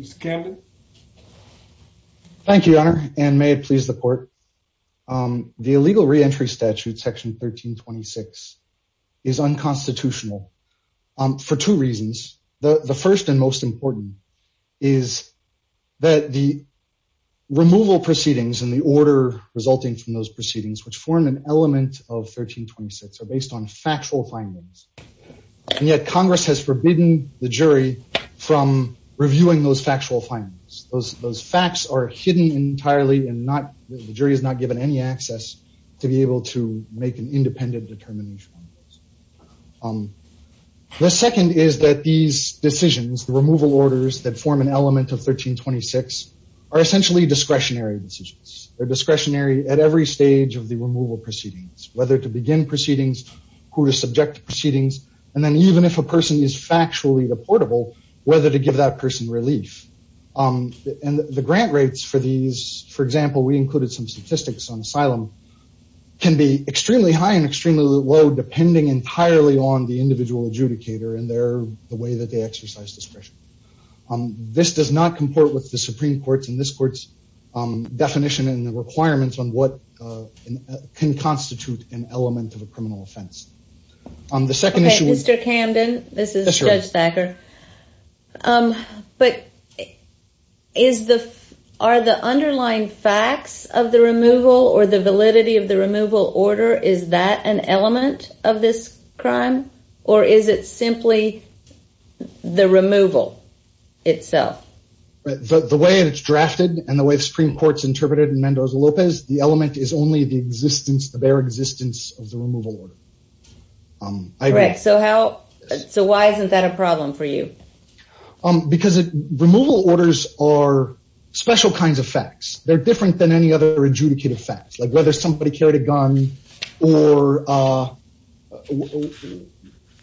Mr. Camden. Thank you your honor and may it please the court. The illegal re-entry statute section 1326 is unconstitutional for two reasons. The first and most important is that the removal proceedings and the order resulting from those proceedings which form an element of 1326 are based on factual findings and yet Congress has forbidden the jury from reviewing those factual findings. Those facts are hidden entirely and the jury is not given any access to be able to make an independent determination on those. The second is that these decisions, the removal orders that form an element of 1326 are essentially discretionary decisions. They're discretionary at every stage of the removal proceedings, whether to begin proceedings, who to subject proceedings, and then even if a person is factually deportable, whether to give that person relief. And the grant rates for these, for example, we included some statistics on asylum can be extremely high and extremely low depending entirely on the individual adjudicator and their the way that they exercise discretion. This does not comport with the Supreme Court's and this requirements on what can constitute an element of a criminal offense. Mr. Camden, this is Judge Thacker. But are the underlying facts of the removal or the validity of the removal order, is that an element of this crime or is it simply the removal itself? The way it's drafted and the element is only the bare existence of the removal order. So why isn't that a problem for you? Because removal orders are special kinds of facts. They're different than any other adjudicative facts, like whether somebody carried a gun or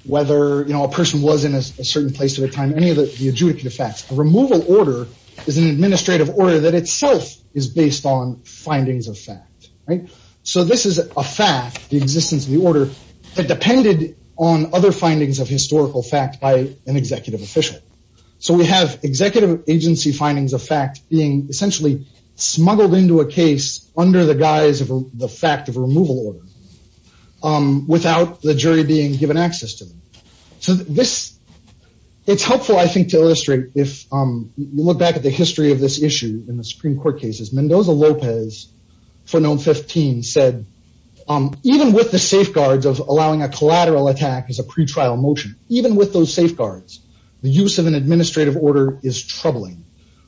whether a person was in a certain place at a time, any of the adjudicative facts. The removal order is an administrative order that itself is based on findings of fact. So this is a fact, the existence of the order, that depended on other findings of historical fact by an executive official. So we have executive agency findings of fact being essentially smuggled into a case under the guise of the fact of removal order without the jury being given access to them. So it's helpful, I think, to illustrate if you look back at the history of this issue in the Supreme Court cases. Mendoza Lopez for Noam 15 said, even with the safeguards of allowing a collateral attack as a pretrial motion, even with those safeguards, the use of an administrative order is troubling.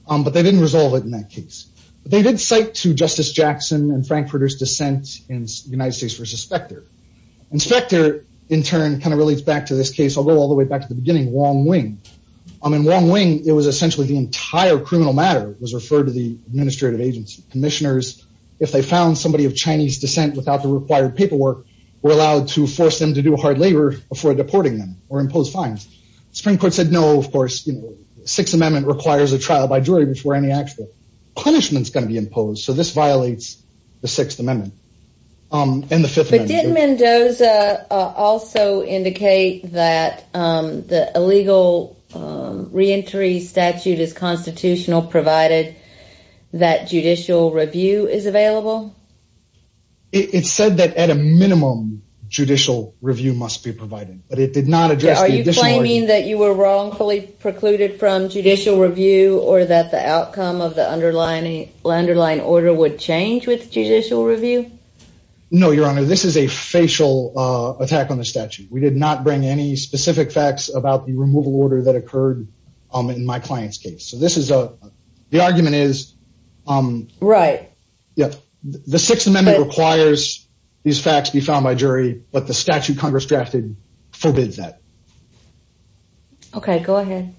But they didn't resolve it in that case. They did cite to Justice Jackson and Frankfurter's dissent in the United States versus Specter. And Specter, in turn, kind of relates back to this case, I'll go all the way back to the beginning, Wong Wing. In Wong Wing, it was essentially the entire criminal matter was referred to the administrative agency. Commissioners, if they found somebody of Chinese descent without the required paperwork, were allowed to force them to do hard labor before deporting them or impose fines. Supreme Court said, no, of course, Sixth Amendment requires a trial by jury before any actual punishment is going to be imposed. So this violates the Sixth Amendment. Did Mendoza also indicate that the illegal reentry statute is constitutional, provided that judicial review is available? It said that at a minimum, judicial review must be provided, but it did not address the additional. Are you claiming that you were wrongfully precluded from judicial review or that the outcome of the underlying order would change with judicial review? No, Your Honor, this is a facial attack on the statute. We did not bring any specific facts about the removal order that occurred in my client's case. So the argument is the Sixth Amendment requires these facts be found by jury, but the statute Congress drafted forbids that. OK, go ahead.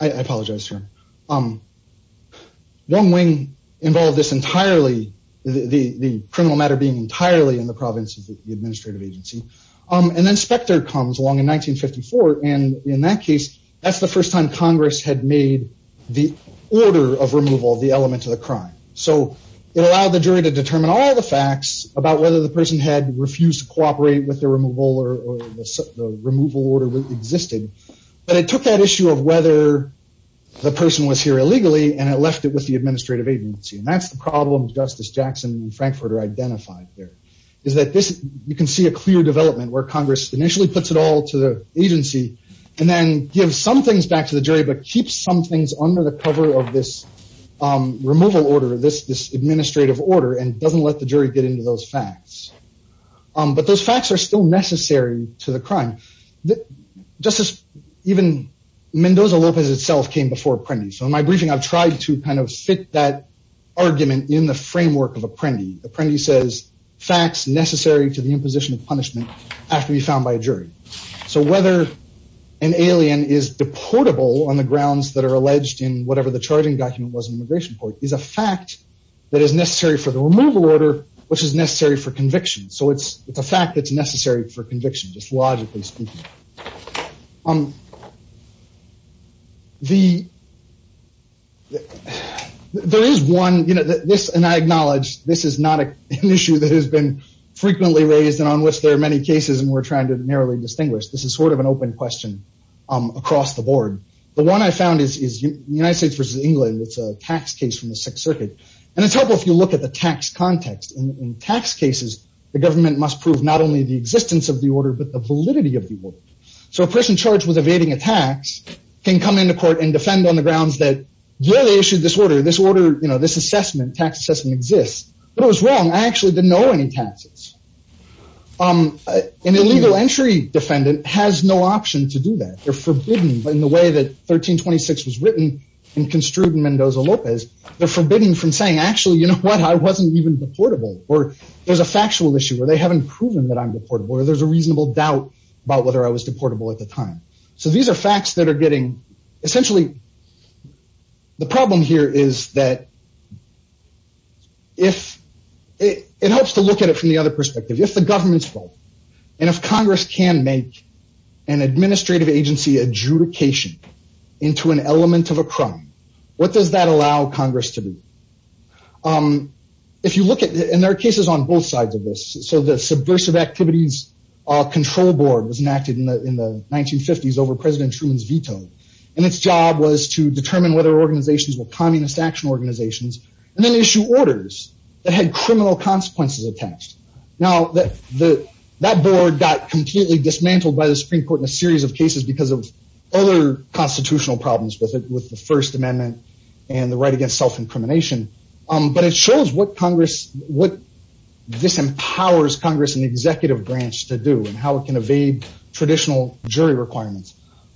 I apologize, Your Honor. Wong Wing involved this entirely the criminal matter being entirely in the province of the administrative agency. And then Specter comes along in 1954. And in that case, that's the first time Congress had made the order of removal the element of the crime. So it allowed the jury to determine all the facts about whether the person had refused to cooperate with the removal order that existed. But it took that issue of whether the person was here illegally, and it left it with the administrative agency. And that's the problem Justice Jackson in Frankfurt identified there is that this you can see a clear development where Congress initially puts it all to the agency and then give some things back to the jury, but keep some things under the cover of this removal order, this administrative order, and doesn't let the jury get into those facts. But those facts are still necessary to the crime. Just as even Mendoza-Lopez itself came before Prentice. So in my briefing, I've tried to kind of fit that argument in the framework of Apprendi. Apprendi says facts necessary to the imposition of punishment have to be found by a jury. So whether an alien is deportable on the grounds that are alleged in whatever the charging document was an immigration court is a fact that is necessary for the removal order, which is necessary for conviction. So it's there is one, you know, this and I acknowledge this is not an issue that has been frequently raised and on which there are many cases and we're trying to narrowly distinguish. This is sort of an open question across the board. The one I found is United States versus England. It's a tax case from the Sixth Circuit. And it's helpful if you look at the tax context. In tax cases, the government must prove not only the existence of the order, but the validity of the order. So a person charged with evading a tax can come into court and defend on the grounds that, yeah, they issued this order, this order, you know, this assessment, tax assessment exists, but it was wrong. I actually didn't know any taxes. An illegal entry defendant has no option to do that. They're forbidden in the way that 1326 was written and construed in Mendoza-Lopez. They're forbidden from saying, actually, you know what, I wasn't even deportable. Or there's a factual issue where they haven't proven that I'm deportable or there's a reasonable doubt about whether I was deportable at the time. So these are facts that are getting, essentially, the problem here is that if, it helps to look at it from the other perspective, if the government's fault, and if Congress can make an administrative agency adjudication into an element of a crime, what does that allow Congress to do? If you look at, and there are cases on both sides of this, so the Subversive Activities Control Board was enacted in the 1950s over President Truman's veto, and its job was to determine whether organizations were communist action organizations, and then issue orders that had criminal consequences attached. Now, that board got completely dismantled by the Supreme Court in a series of cases because of other constitutional problems with the First Amendment and the right against self-incrimination, but it shows what this empowers Congress and the executive branch to do and how it can evade traditional jury requirements.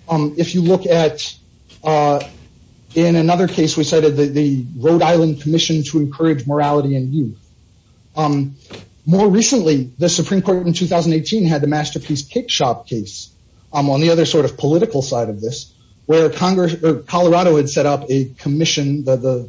If you look at, in another case, we cited the Rhode Island Commission to Encourage Morality and Youth. More recently, the Supreme Court in 2018 had the Masterpiece Kick Shop case on the other sort of political side of this, where Colorado had set up a commission that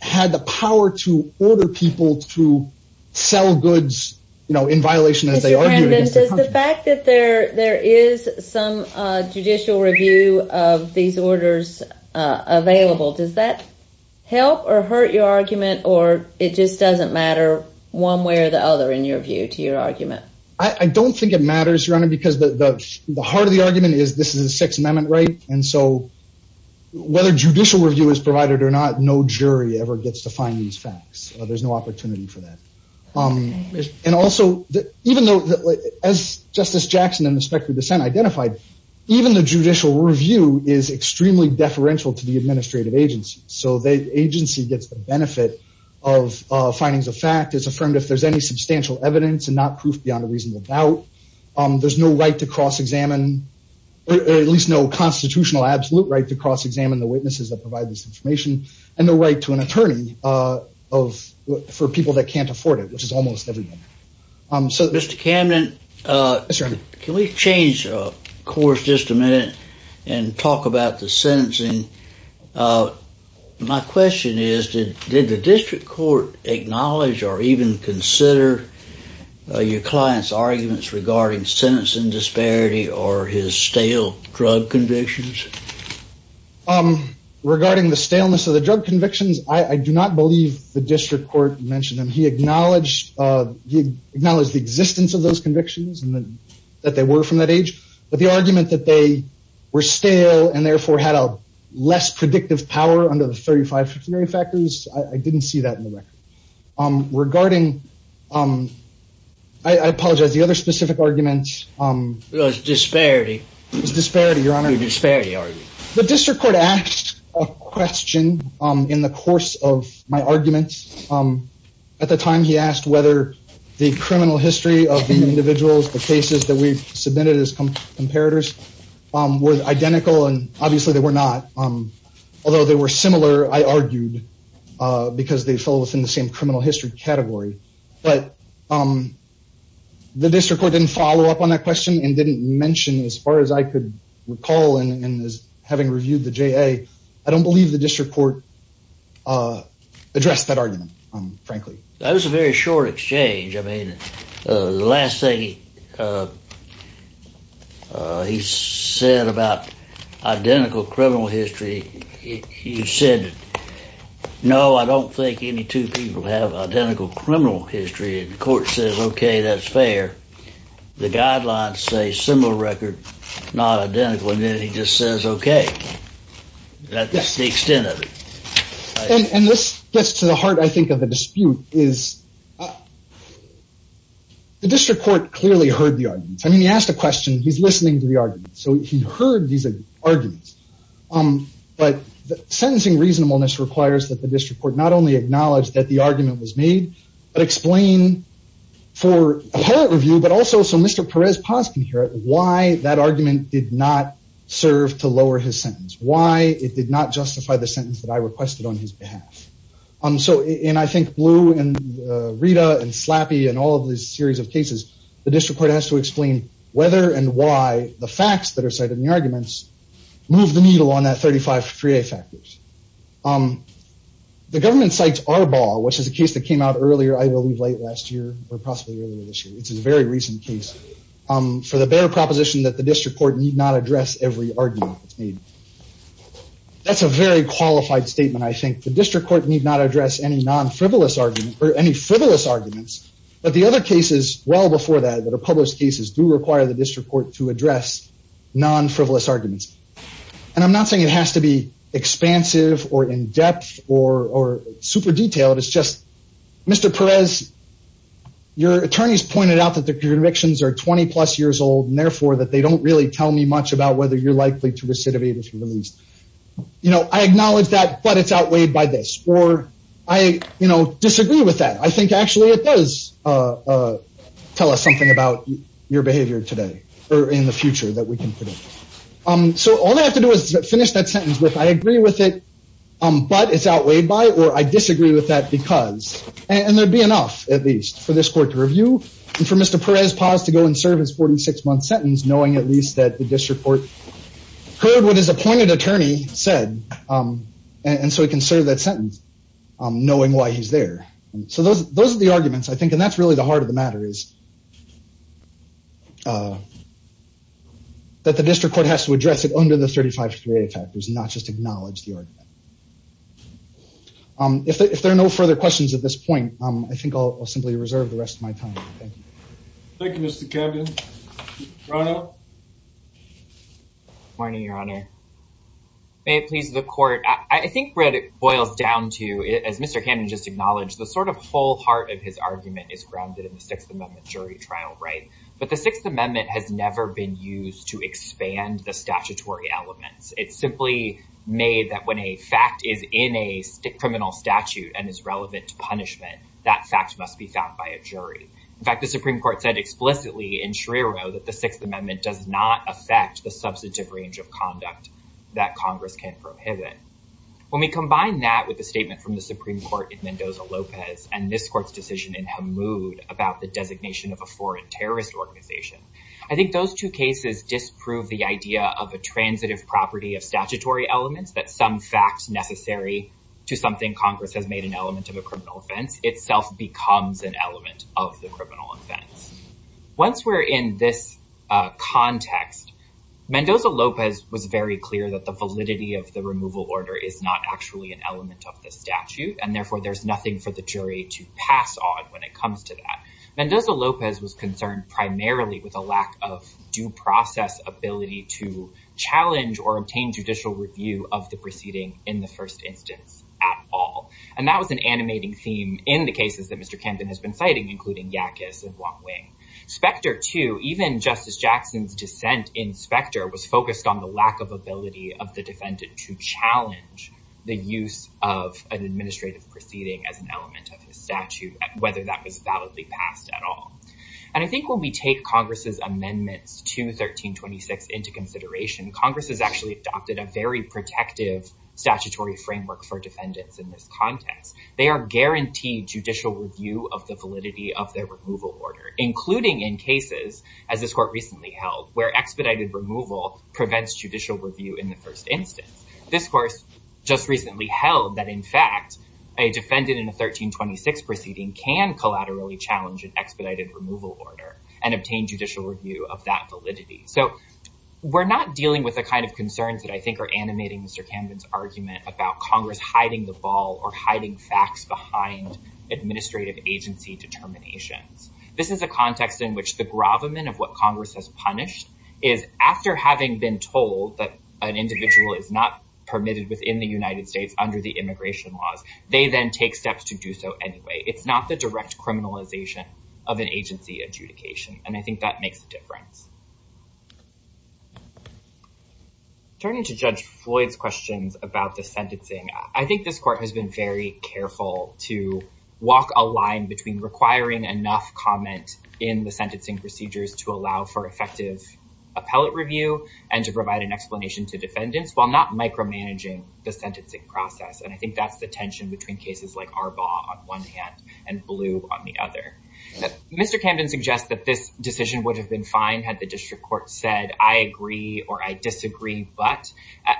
had the sell goods, you know, in violation as they argued against the fact that there is some judicial review of these orders available. Does that help or hurt your argument, or it just doesn't matter one way or the other in your view to your argument? I don't think it matters, Your Honor, because the heart of the argument is this is a Sixth Amendment right, and so whether judicial review is provided or not, no jury ever gets to find these facts. There's no opportunity for that. And also, even though, as Justice Jackson and the Inspector of Dissent identified, even the judicial review is extremely deferential to the administrative agency, so the agency gets the benefit of findings of fact. It's affirmed if there's any substantial evidence and not proof beyond a reasonable doubt. There's no right to cross-examine, or at least no constitutional absolute right to cross-examine the witnesses that provide this information, and the right to an attorney for people that can't afford it, which is almost everyone. Mr. Camden, can we change course just a minute and talk about the sentencing? My question is, did the district court acknowledge or even consider your client's arguments regarding sentencing disparity or his own? Regarding the staleness of the drug convictions, I do not believe the district court mentioned them. He acknowledged the existence of those convictions and that they were from that age, but the argument that they were stale and therefore had a less predictive power under the 35 criteria factors, I didn't see that in the record. Regarding, I apologize, the other specific arguments. It was disparity. It was disparity, Your Honor. It was a disparity argument. The district court asked a question in the course of my arguments. At the time, he asked whether the criminal history of the individuals, the cases that we submitted as comparators, were identical, and obviously they were not. Although they were similar, I argued because they fell within the same criminal history category. But the district court didn't follow up on that question and didn't mention, as far as I could recall, and as having reviewed the JA, I don't believe the district court addressed that argument, frankly. That was a very short answer. No, I don't think any two people have identical criminal history. The court says, okay, that's fair. The guidelines say similar record, not identical, and then he just says, okay. That's the extent of it. And this gets to the heart, I think, of the dispute is the district court clearly heard the arguments. I mean, he asked a question. He's listening to arguments. So he heard these arguments. But sentencing reasonableness requires that the district court not only acknowledge that the argument was made, but explain for appellate review, but also so Mr. Perez-Paz can hear it, why that argument did not serve to lower his sentence. Why it did not justify the sentence that I requested on his behalf. And I think Blue and Rita and Slappy and all of these series of cases, the district court has to explain whether and why the facts that are cited in the arguments move the needle on that 353A factors. The government cites Arbaugh, which is a case that came out earlier, I believe late last year, or possibly earlier this year. It's a very recent case, for the bare proposition that the district court need not address every argument that's made. That's a very qualified statement, I think. The district court need not address any non-frivolous argument or any frivolous arguments. But the other well before that, that are published cases, do require the district court to address non-frivolous arguments. And I'm not saying it has to be expansive or in-depth or super detailed. It's just, Mr. Perez, your attorneys pointed out that the convictions are 20 plus years old, and therefore that they don't really tell me much about whether you're likely to recidivate if you're released. I acknowledge that, but it's outweighed by this. Or I disagree with that. I actually think it does tell us something about your behavior today, or in the future, that we can predict. So all I have to do is finish that sentence with, I agree with it, but it's outweighed by, or I disagree with that because. And there'd be enough, at least, for this court to review, and for Mr. Perez to pause to go and serve his 46-month sentence, knowing at least that the district court heard what his appointed attorney said. And so he can serve that sentence, knowing why he's there. And so those are the arguments, I think, and that's really the heart of the matter is that the district court has to address it under the 35-day factors, not just acknowledge the argument. If there are no further questions at this point, I think I'll simply reserve the rest of my time. Thank you. Thank you, Mr. Kambian. Rono. Morning, Your Honor. May it please the the sort of whole heart of his argument is grounded in the Sixth Amendment jury trial, right? But the Sixth Amendment has never been used to expand the statutory elements. It's simply made that when a fact is in a criminal statute and is relevant to punishment, that fact must be found by a jury. In fact, the Supreme Court said explicitly in Schriero that the Sixth Amendment does not affect the substantive range of conduct that Congress can prohibit. When we combine that with the statement from the Supreme Court in Mendoza-Lopez and this court's decision in Hamoud about the designation of a foreign terrorist organization, I think those two cases disprove the idea of a transitive property of statutory elements, that some facts necessary to something Congress has made an element of a criminal offense itself becomes an element of the criminal offense. Once we're in this context, Mendoza-Lopez was very clear that the validity of the removal order is not actually an element of the statute, and therefore there's nothing for the jury to pass on when it comes to that. Mendoza-Lopez was concerned primarily with a lack of due process ability to challenge or obtain judicial review of the proceeding in the first instance at all. And that was an animating theme in the cases that Mr. Kambian has been citing, including Yackas and Wong Wing. Specter, even Justice Jackson's dissent in Specter was focused on the lack of ability of the defendant to challenge the use of an administrative proceeding as an element of his statute, whether that was validly passed at all. And I think when we take Congress's amendments to 1326 into consideration, Congress has actually adopted a very protective statutory framework for defendants in this context. They are guaranteed judicial review of the validity of their removal order, including in cases, as this court recently held, where expedited removal prevents judicial review in the first instance. This course just recently held that, in fact, a defendant in a 1326 proceeding can collaterally challenge an expedited removal order and obtain judicial review of that validity. So we're not dealing with the kind of concerns that I think are animating Mr. Kambian's argument about Congress hiding the ball or hiding facts behind administrative agency determinations. This is a context in which the gravamen of what Congress has punished is, after having been told that an individual is not permitted within the United States under the immigration laws, they then take steps to do so anyway. It's not the direct criminalization of an agency adjudication. And I think that makes a difference. Turning to Judge Floyd's questions about the sentencing, I think this court has been very careful to walk a line between requiring enough comment in the sentencing procedures to allow for effective appellate review and to provide an explanation to defendants, while not micromanaging the sentencing process. And I think that's the tension between cases like Arbaugh on one hand and Blue on the other. Mr. Kambian suggests that this decision would have been fine had the district court said, I agree or I disagree, but.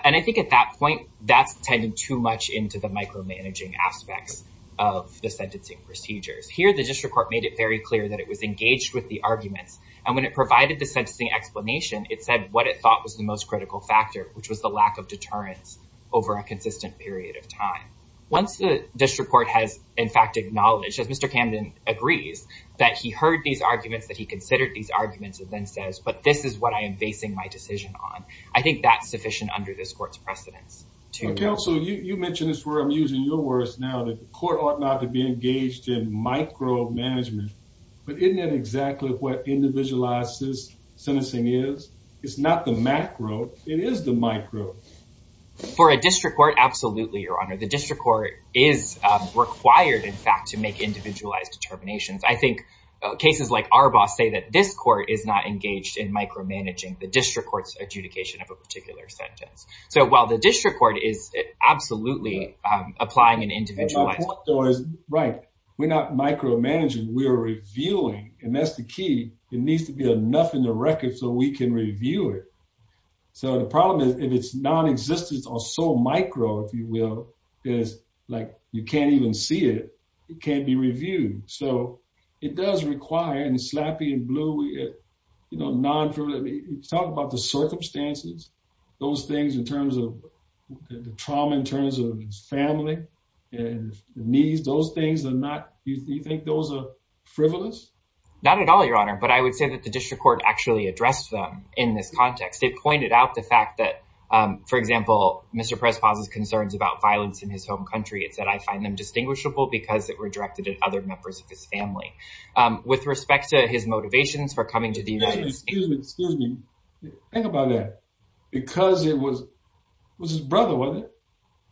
And I think at that point, that's tending too much into the micromanaging aspects of the sentencing procedures. Here, the district court made it very clear that it was engaged with the arguments. And when it provided the sentencing explanation, it said what it thought was the most critical factor, which was the lack of deterrence over a consistent period of time. Once the district court has, in fact, acknowledged, as Mr. Kambian agrees, that he heard these arguments, that he under this court's precedence. Counsel, you mentioned this where I'm using your words now, that the court ought not to be engaged in micromanagement. But isn't that exactly what individualized sentencing is? It's not the macro, it is the micro. For a district court, absolutely, Your Honor. The district court is required, in fact, to make individualized determinations. I think cases like Arbaugh say that this court is not engaged in micromanaging the district court's particular sentence. So, while the district court is absolutely applying an individualized one. Right. We're not micromanaging, we're reviewing. And that's the key. It needs to be enough in the record so we can review it. So, the problem is if it's non-existent or so micro, if you will, is like you can't even see it, it can't be reviewed. So, it does require, in the slappy and blue, you know, non-frivolity. Talk about the circumstances, those things in terms of the trauma in terms of his family and needs. Those things are not, do you think those are frivolous? Not at all, Your Honor. But I would say that the district court actually addressed them in this context. It pointed out the fact that, for example, Mr. Perez-Paz's concerns about violence in his home country, it said, I find them distinguishable because it were directed at the United States. Excuse me. Think about that. Because it was his brother, wasn't it?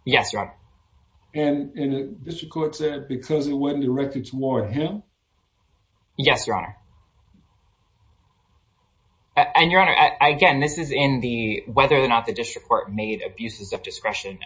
Yes, Your Honor. And the district court said because it wasn't directed toward him? Yes, Your Honor. And Your Honor, again, this is in the whether or not the district court made abuses of discretion.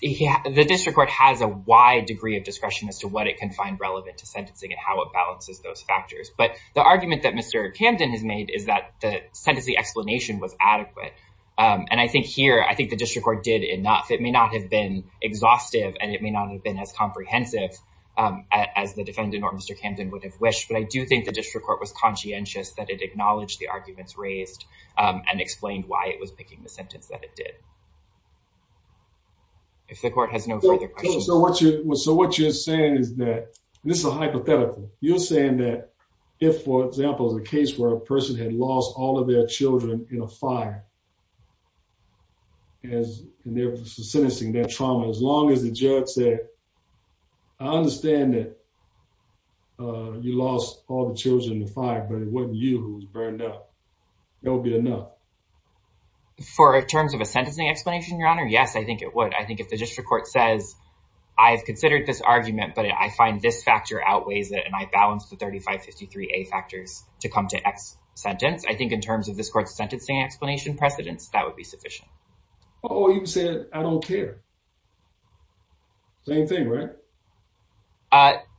The district court has a wide degree of discretion as to what it can find relevant to sentencing and how it balances those factors. But the argument that Mr. Camden has made is that the sentencing explanation was adequate. And I think here, I think the district court did enough. It may not have been exhaustive and it may not have been as comprehensive as the defendant or Mr. Camden would have wished. But I do think the district court was conscientious that it acknowledged the arguments raised and explained why it was picking the sentence that it did. If the court has no further questions. So what you're saying is that, and this is a hypothetical, you're saying that if, for example, there's a case where a person had lost all of their children in a fire and they're sentencing their trauma, as long as the judge said, I understand that you lost all the children in the fire, but it wasn't you who was burned up. That would be enough. For terms of a sentencing explanation, Your Honor, yes, I think it would. I think if the district court says I've considered this argument, but I find this factor outweighs it and I balance the 3553A factors to come to X sentence, I think in terms of this court's sentencing explanation precedence, that would be sufficient. Or you could say I don't care. Same thing, right?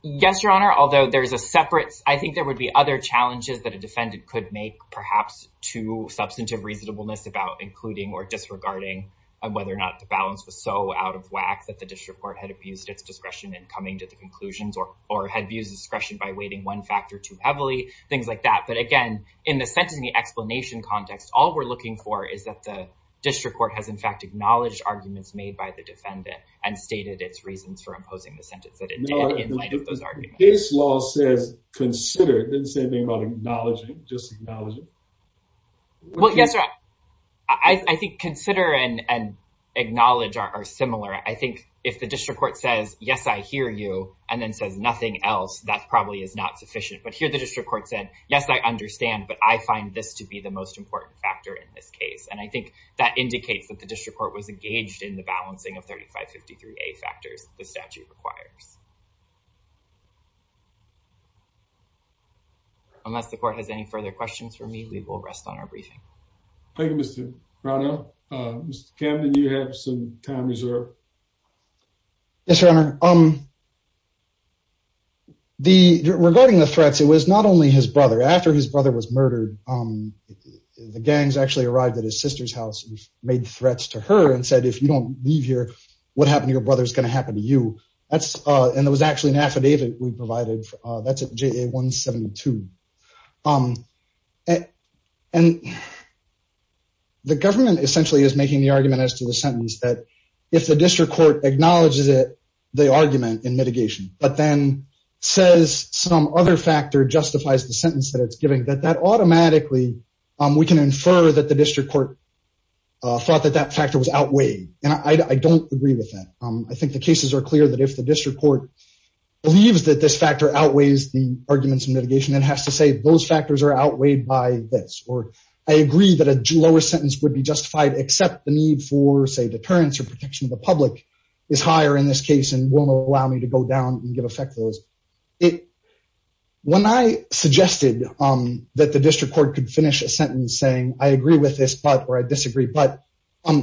Yes, Your Honor. Although there's a separate, I think there would be other challenges that a defendant could make perhaps to substantive reasonableness about including or disregarding whether or not the balance was so out of whack that the district court had abused its discretion in coming to the conclusions or had abused discretion by weighting one factor too heavily, things like that. But again, in the sentencing explanation context, all we're looking for is that the district court has in fact acknowledged arguments made by the defendant and stated its reasons for imposing the sentence that it did in light of those arguments. This law says consider, it doesn't say anything about acknowledging, just acknowledging? Well, yes, Your Honor. I think consider and acknowledge are similar. I think if the district court says, yes, I hear you, and then says nothing else, that probably is not sufficient. But here the district court said, yes, I understand, but I find this to be the most important factor in this case. And I think that indicates that the district court was engaged in the balancing of 3553A factors the statute requires. Unless the court has any further questions for me, we will rest on our briefing. Thank you, Mr. Brownell. Mr. Camden, you have some time reserved. Yes, Your Honor. Regarding the threats, it was not only his brother. After his brother was murdered, the gangs actually arrived at his sister's house and made threats to her and said, if you don't leave here, what happened to your brother is going to happen to you. And there was actually an affidavit we provided. That's at JA 172. And the government essentially is making the argument as to the sentence that if the district court acknowledges it, the argument in mitigation, but then says some other factor justifies the sentence that that automatically, we can infer that the district court thought that that factor was outweighed. And I don't agree with that. I think the cases are clear that if the district court believes that this factor outweighs the arguments in mitigation, it has to say those factors are outweighed by this. Or I agree that a lower sentence would be justified except the need for, say, deterrence or protection of the public is higher in this case and won't allow me to go down and give effect to it. When I suggested that the district court could finish a sentence saying I agree with this, but, or I disagree, but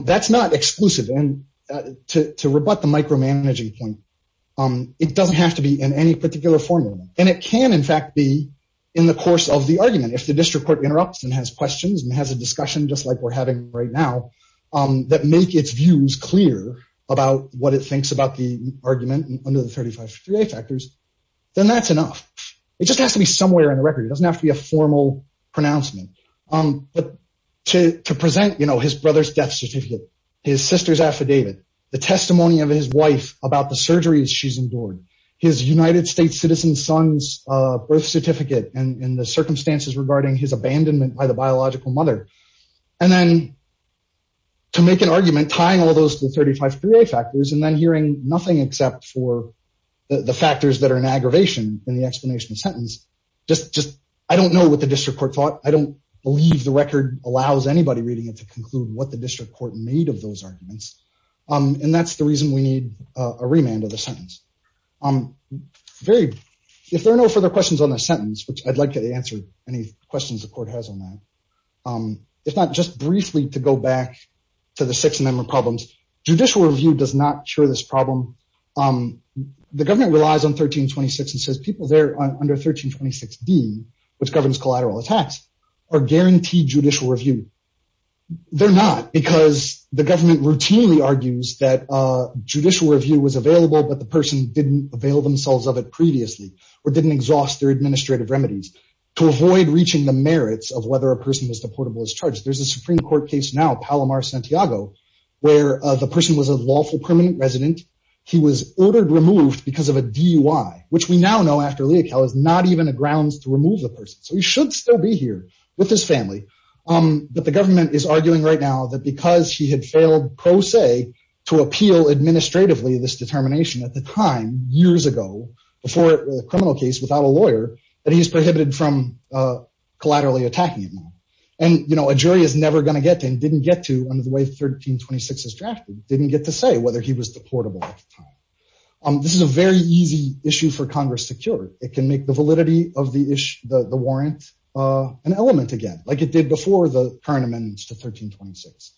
that's not exclusive. And to rebut the micromanaging point, it doesn't have to be in any particular formula. And it can, in fact, be in the course of the argument. If the district court interrupts and has questions and has a discussion, just like we're having right now, that make its views clear about what it thinks about the argument under the 35-53a factors, then that's enough. It just has to be somewhere in the record. It doesn't have to be a formal pronouncement. But to present, you know, his brother's death certificate, his sister's affidavit, the testimony of his wife about the surgeries she's endured, his United States citizen son's birth certificate and the circumstances regarding his abandonment by biological mother, and then to make an argument tying all those to the 35-53a factors and then hearing nothing except for the factors that are in aggravation in the explanation of the sentence, just, I don't know what the district court thought. I don't believe the record allows anybody reading it to conclude what the district court made of those arguments. And that's the reason we need a remand of the sentence. Very, if there are no further questions on the sentence, which I'd like to answer any questions the court has on that, if not just briefly to go back to the Sixth Amendment problems, judicial review does not cure this problem. The government relies on 1326 and says people there under 1326d, which governs collateral attacks, are guaranteed judicial review. They're not, because the government routinely argues that judicial review was available, but the person didn't avail themselves of it previously, or didn't exhaust their administrative remedies to avoid reaching the merits of whether a person was deportable as charged. There's a Supreme Court case now, Palomar-Santiago, where the person was a lawful permanent resident. He was ordered removed because of a DUI, which we now know after Leocal is not even a grounds to remove the person. So he should still be here with his family. But the government is arguing right now that because he had failed pro se to appeal administratively this determination at the time, years ago, before a criminal case without a lawyer, that he is prohibited from collaterally attacking him. And, you know, a jury is never going to get to, and didn't get to under the way 1326 is drafted, didn't get to say whether he was deportable at the time. This is a very easy issue for Congress to cure. It can make the validity of the warrant an element again, like it did before the current amendments to 1326.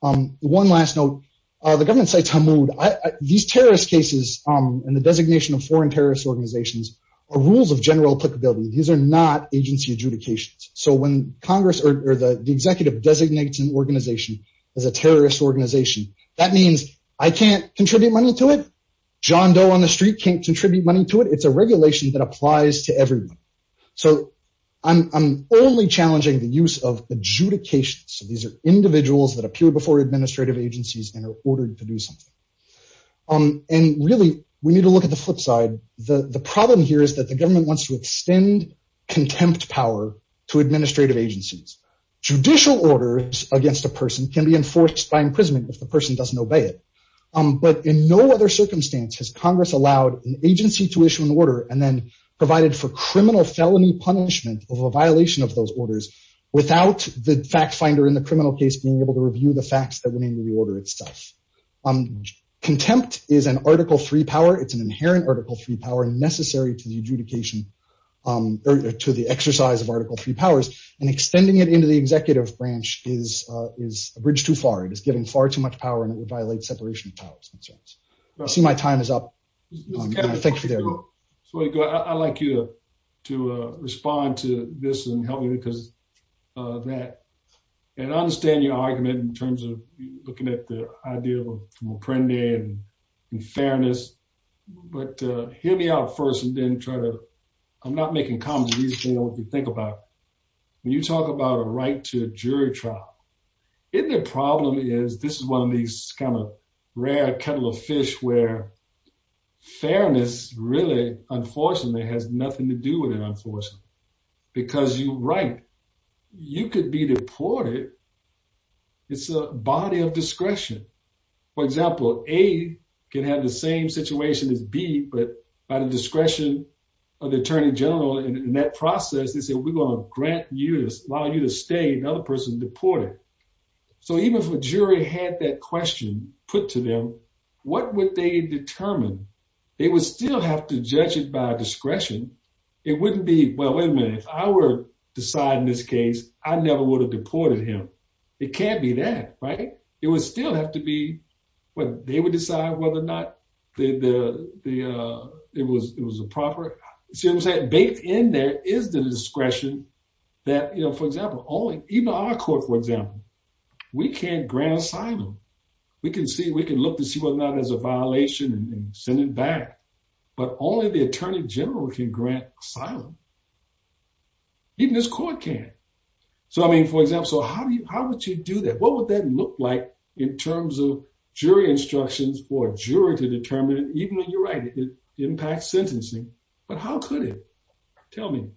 One last note, the government cites Hamoud. These terrorist cases and the designation of foreign terrorist organizations are rules of general applicability. These are not agency adjudications. So when Congress or the executive designates an organization as a terrorist organization, that means I can't contribute money to it. John Doe on the street can't contribute money to it. It's a regulation that applies to everyone. So I'm only challenging the use of adjudications. These are ordered to do something. And really, we need to look at the flip side. The problem here is that the government wants to extend contempt power to administrative agencies. Judicial orders against a person can be enforced by imprisonment if the person doesn't obey it. But in no other circumstance has Congress allowed an agency to issue an order and then provided for criminal felony punishment of a violation of those orders without the fact finder in the criminal case being to review the facts that went into the order itself. Contempt is an Article III power. It's an inherent Article III power necessary to the adjudication or to the exercise of Article III powers. And extending it into the executive branch is a bridge too far. It is giving far too much power and it would violate separation of powers concerns. I see my time is up. Thank you for that. I like you to respond to this and help me because that, and I understand your argument in terms of looking at the idea of apprending and fairness. But hear me out first and then try to, I'm not making comments. These are what we think about when you talk about a right to a jury trial. Isn't the problem is this is one of these kind of rare kettle of fish where fairness really, unfortunately, has nothing to do with it, unfortunately. Because you write, you could be deported. It's a body of discretion. For example, A can have the same situation as B, but by the discretion of the attorney general in that process, they said, we're going to grant you this, allow you to stay, another person deported. So even if a jury had that question put to them, what would they determine? They would still have to judge it by discretion. It wouldn't be, well, wait a minute. If I were deciding this case, I never would have deported him. It can't be that, right? It would still have to be what they would decide whether or not it was a proper, see what I'm saying? Baked in there is the discretion that, you know, for example, even our court, for example, we can't grant asylum. We can see, whether or not there's a violation and send it back, but only the attorney general can grant asylum. Even this court can. So, I mean, for example, so how do you, how would you do that? What would that look like in terms of jury instructions for a jury to determine it, even though you're right, it impacts sentencing, but how could it? Tell me.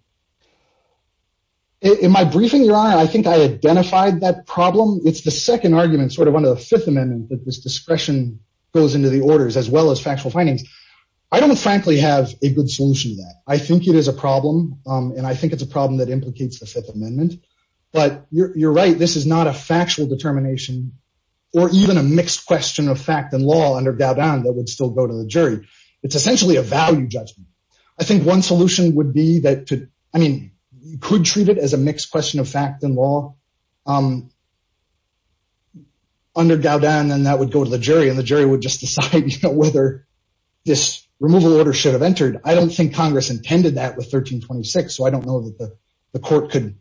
In my briefing, your honor, I think I identified that problem. It's the second argument, sort of under the fifth amendment that this discretion goes into the orders as well as factual findings. I don't frankly have a good solution to that. I think it is a problem, and I think it's a problem that implicates the fifth amendment, but you're right. This is not a factual determination or even a mixed question of fact and law under Gaudin that would still go to the jury. It's essentially a value judgment. I think one solution would be that, I mean, you could treat it as a mixed question of fact and law under Gaudin, and that would go to the jury, and the jury would just decide whether this removal order should have entered. I don't think Congress intended that with 1326, so I don't know that the court could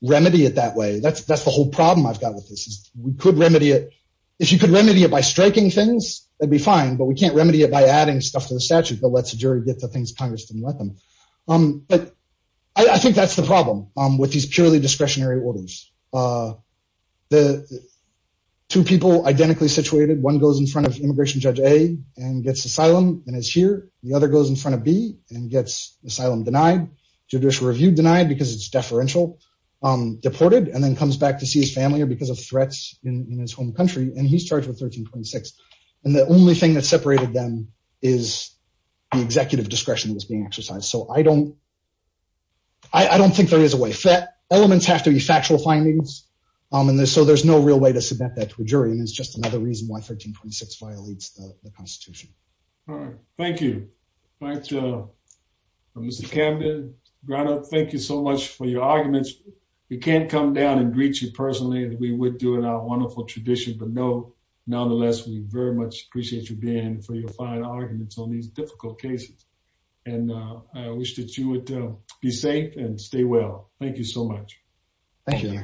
remedy it that way. That's the whole problem I've got with this. We could remedy it. If you could remedy it by striking things, that'd be fine, but we can't remedy it by adding stuff to the statute that lets the jury get things Congress didn't let them. But I think that's the problem with these purely discretionary orders. Two people identically situated, one goes in front of immigration judge A and gets asylum and is here, the other goes in front of B and gets asylum denied, judicial review denied because it's deferential, deported, and then comes back to see his family because of threats in his home country, and he's charged with 1326, and the only thing that separated them is the executive discretion that was being exercised. So I don't think there is a way. Elements have to be factual findings, so there's no real way to submit that to a jury, and it's just another reason why 1326 violates the Constitution. All right, thank you. Thank you, Mr. Camden. Grano, thank you so much for your arguments. We can't come down and greet you personally as we would do in our wonderful tradition, but nonetheless, we very much appreciate you being here for your fine arguments on these difficult cases, and I wish that you would be safe and stay well. Thank you so much. Thank you.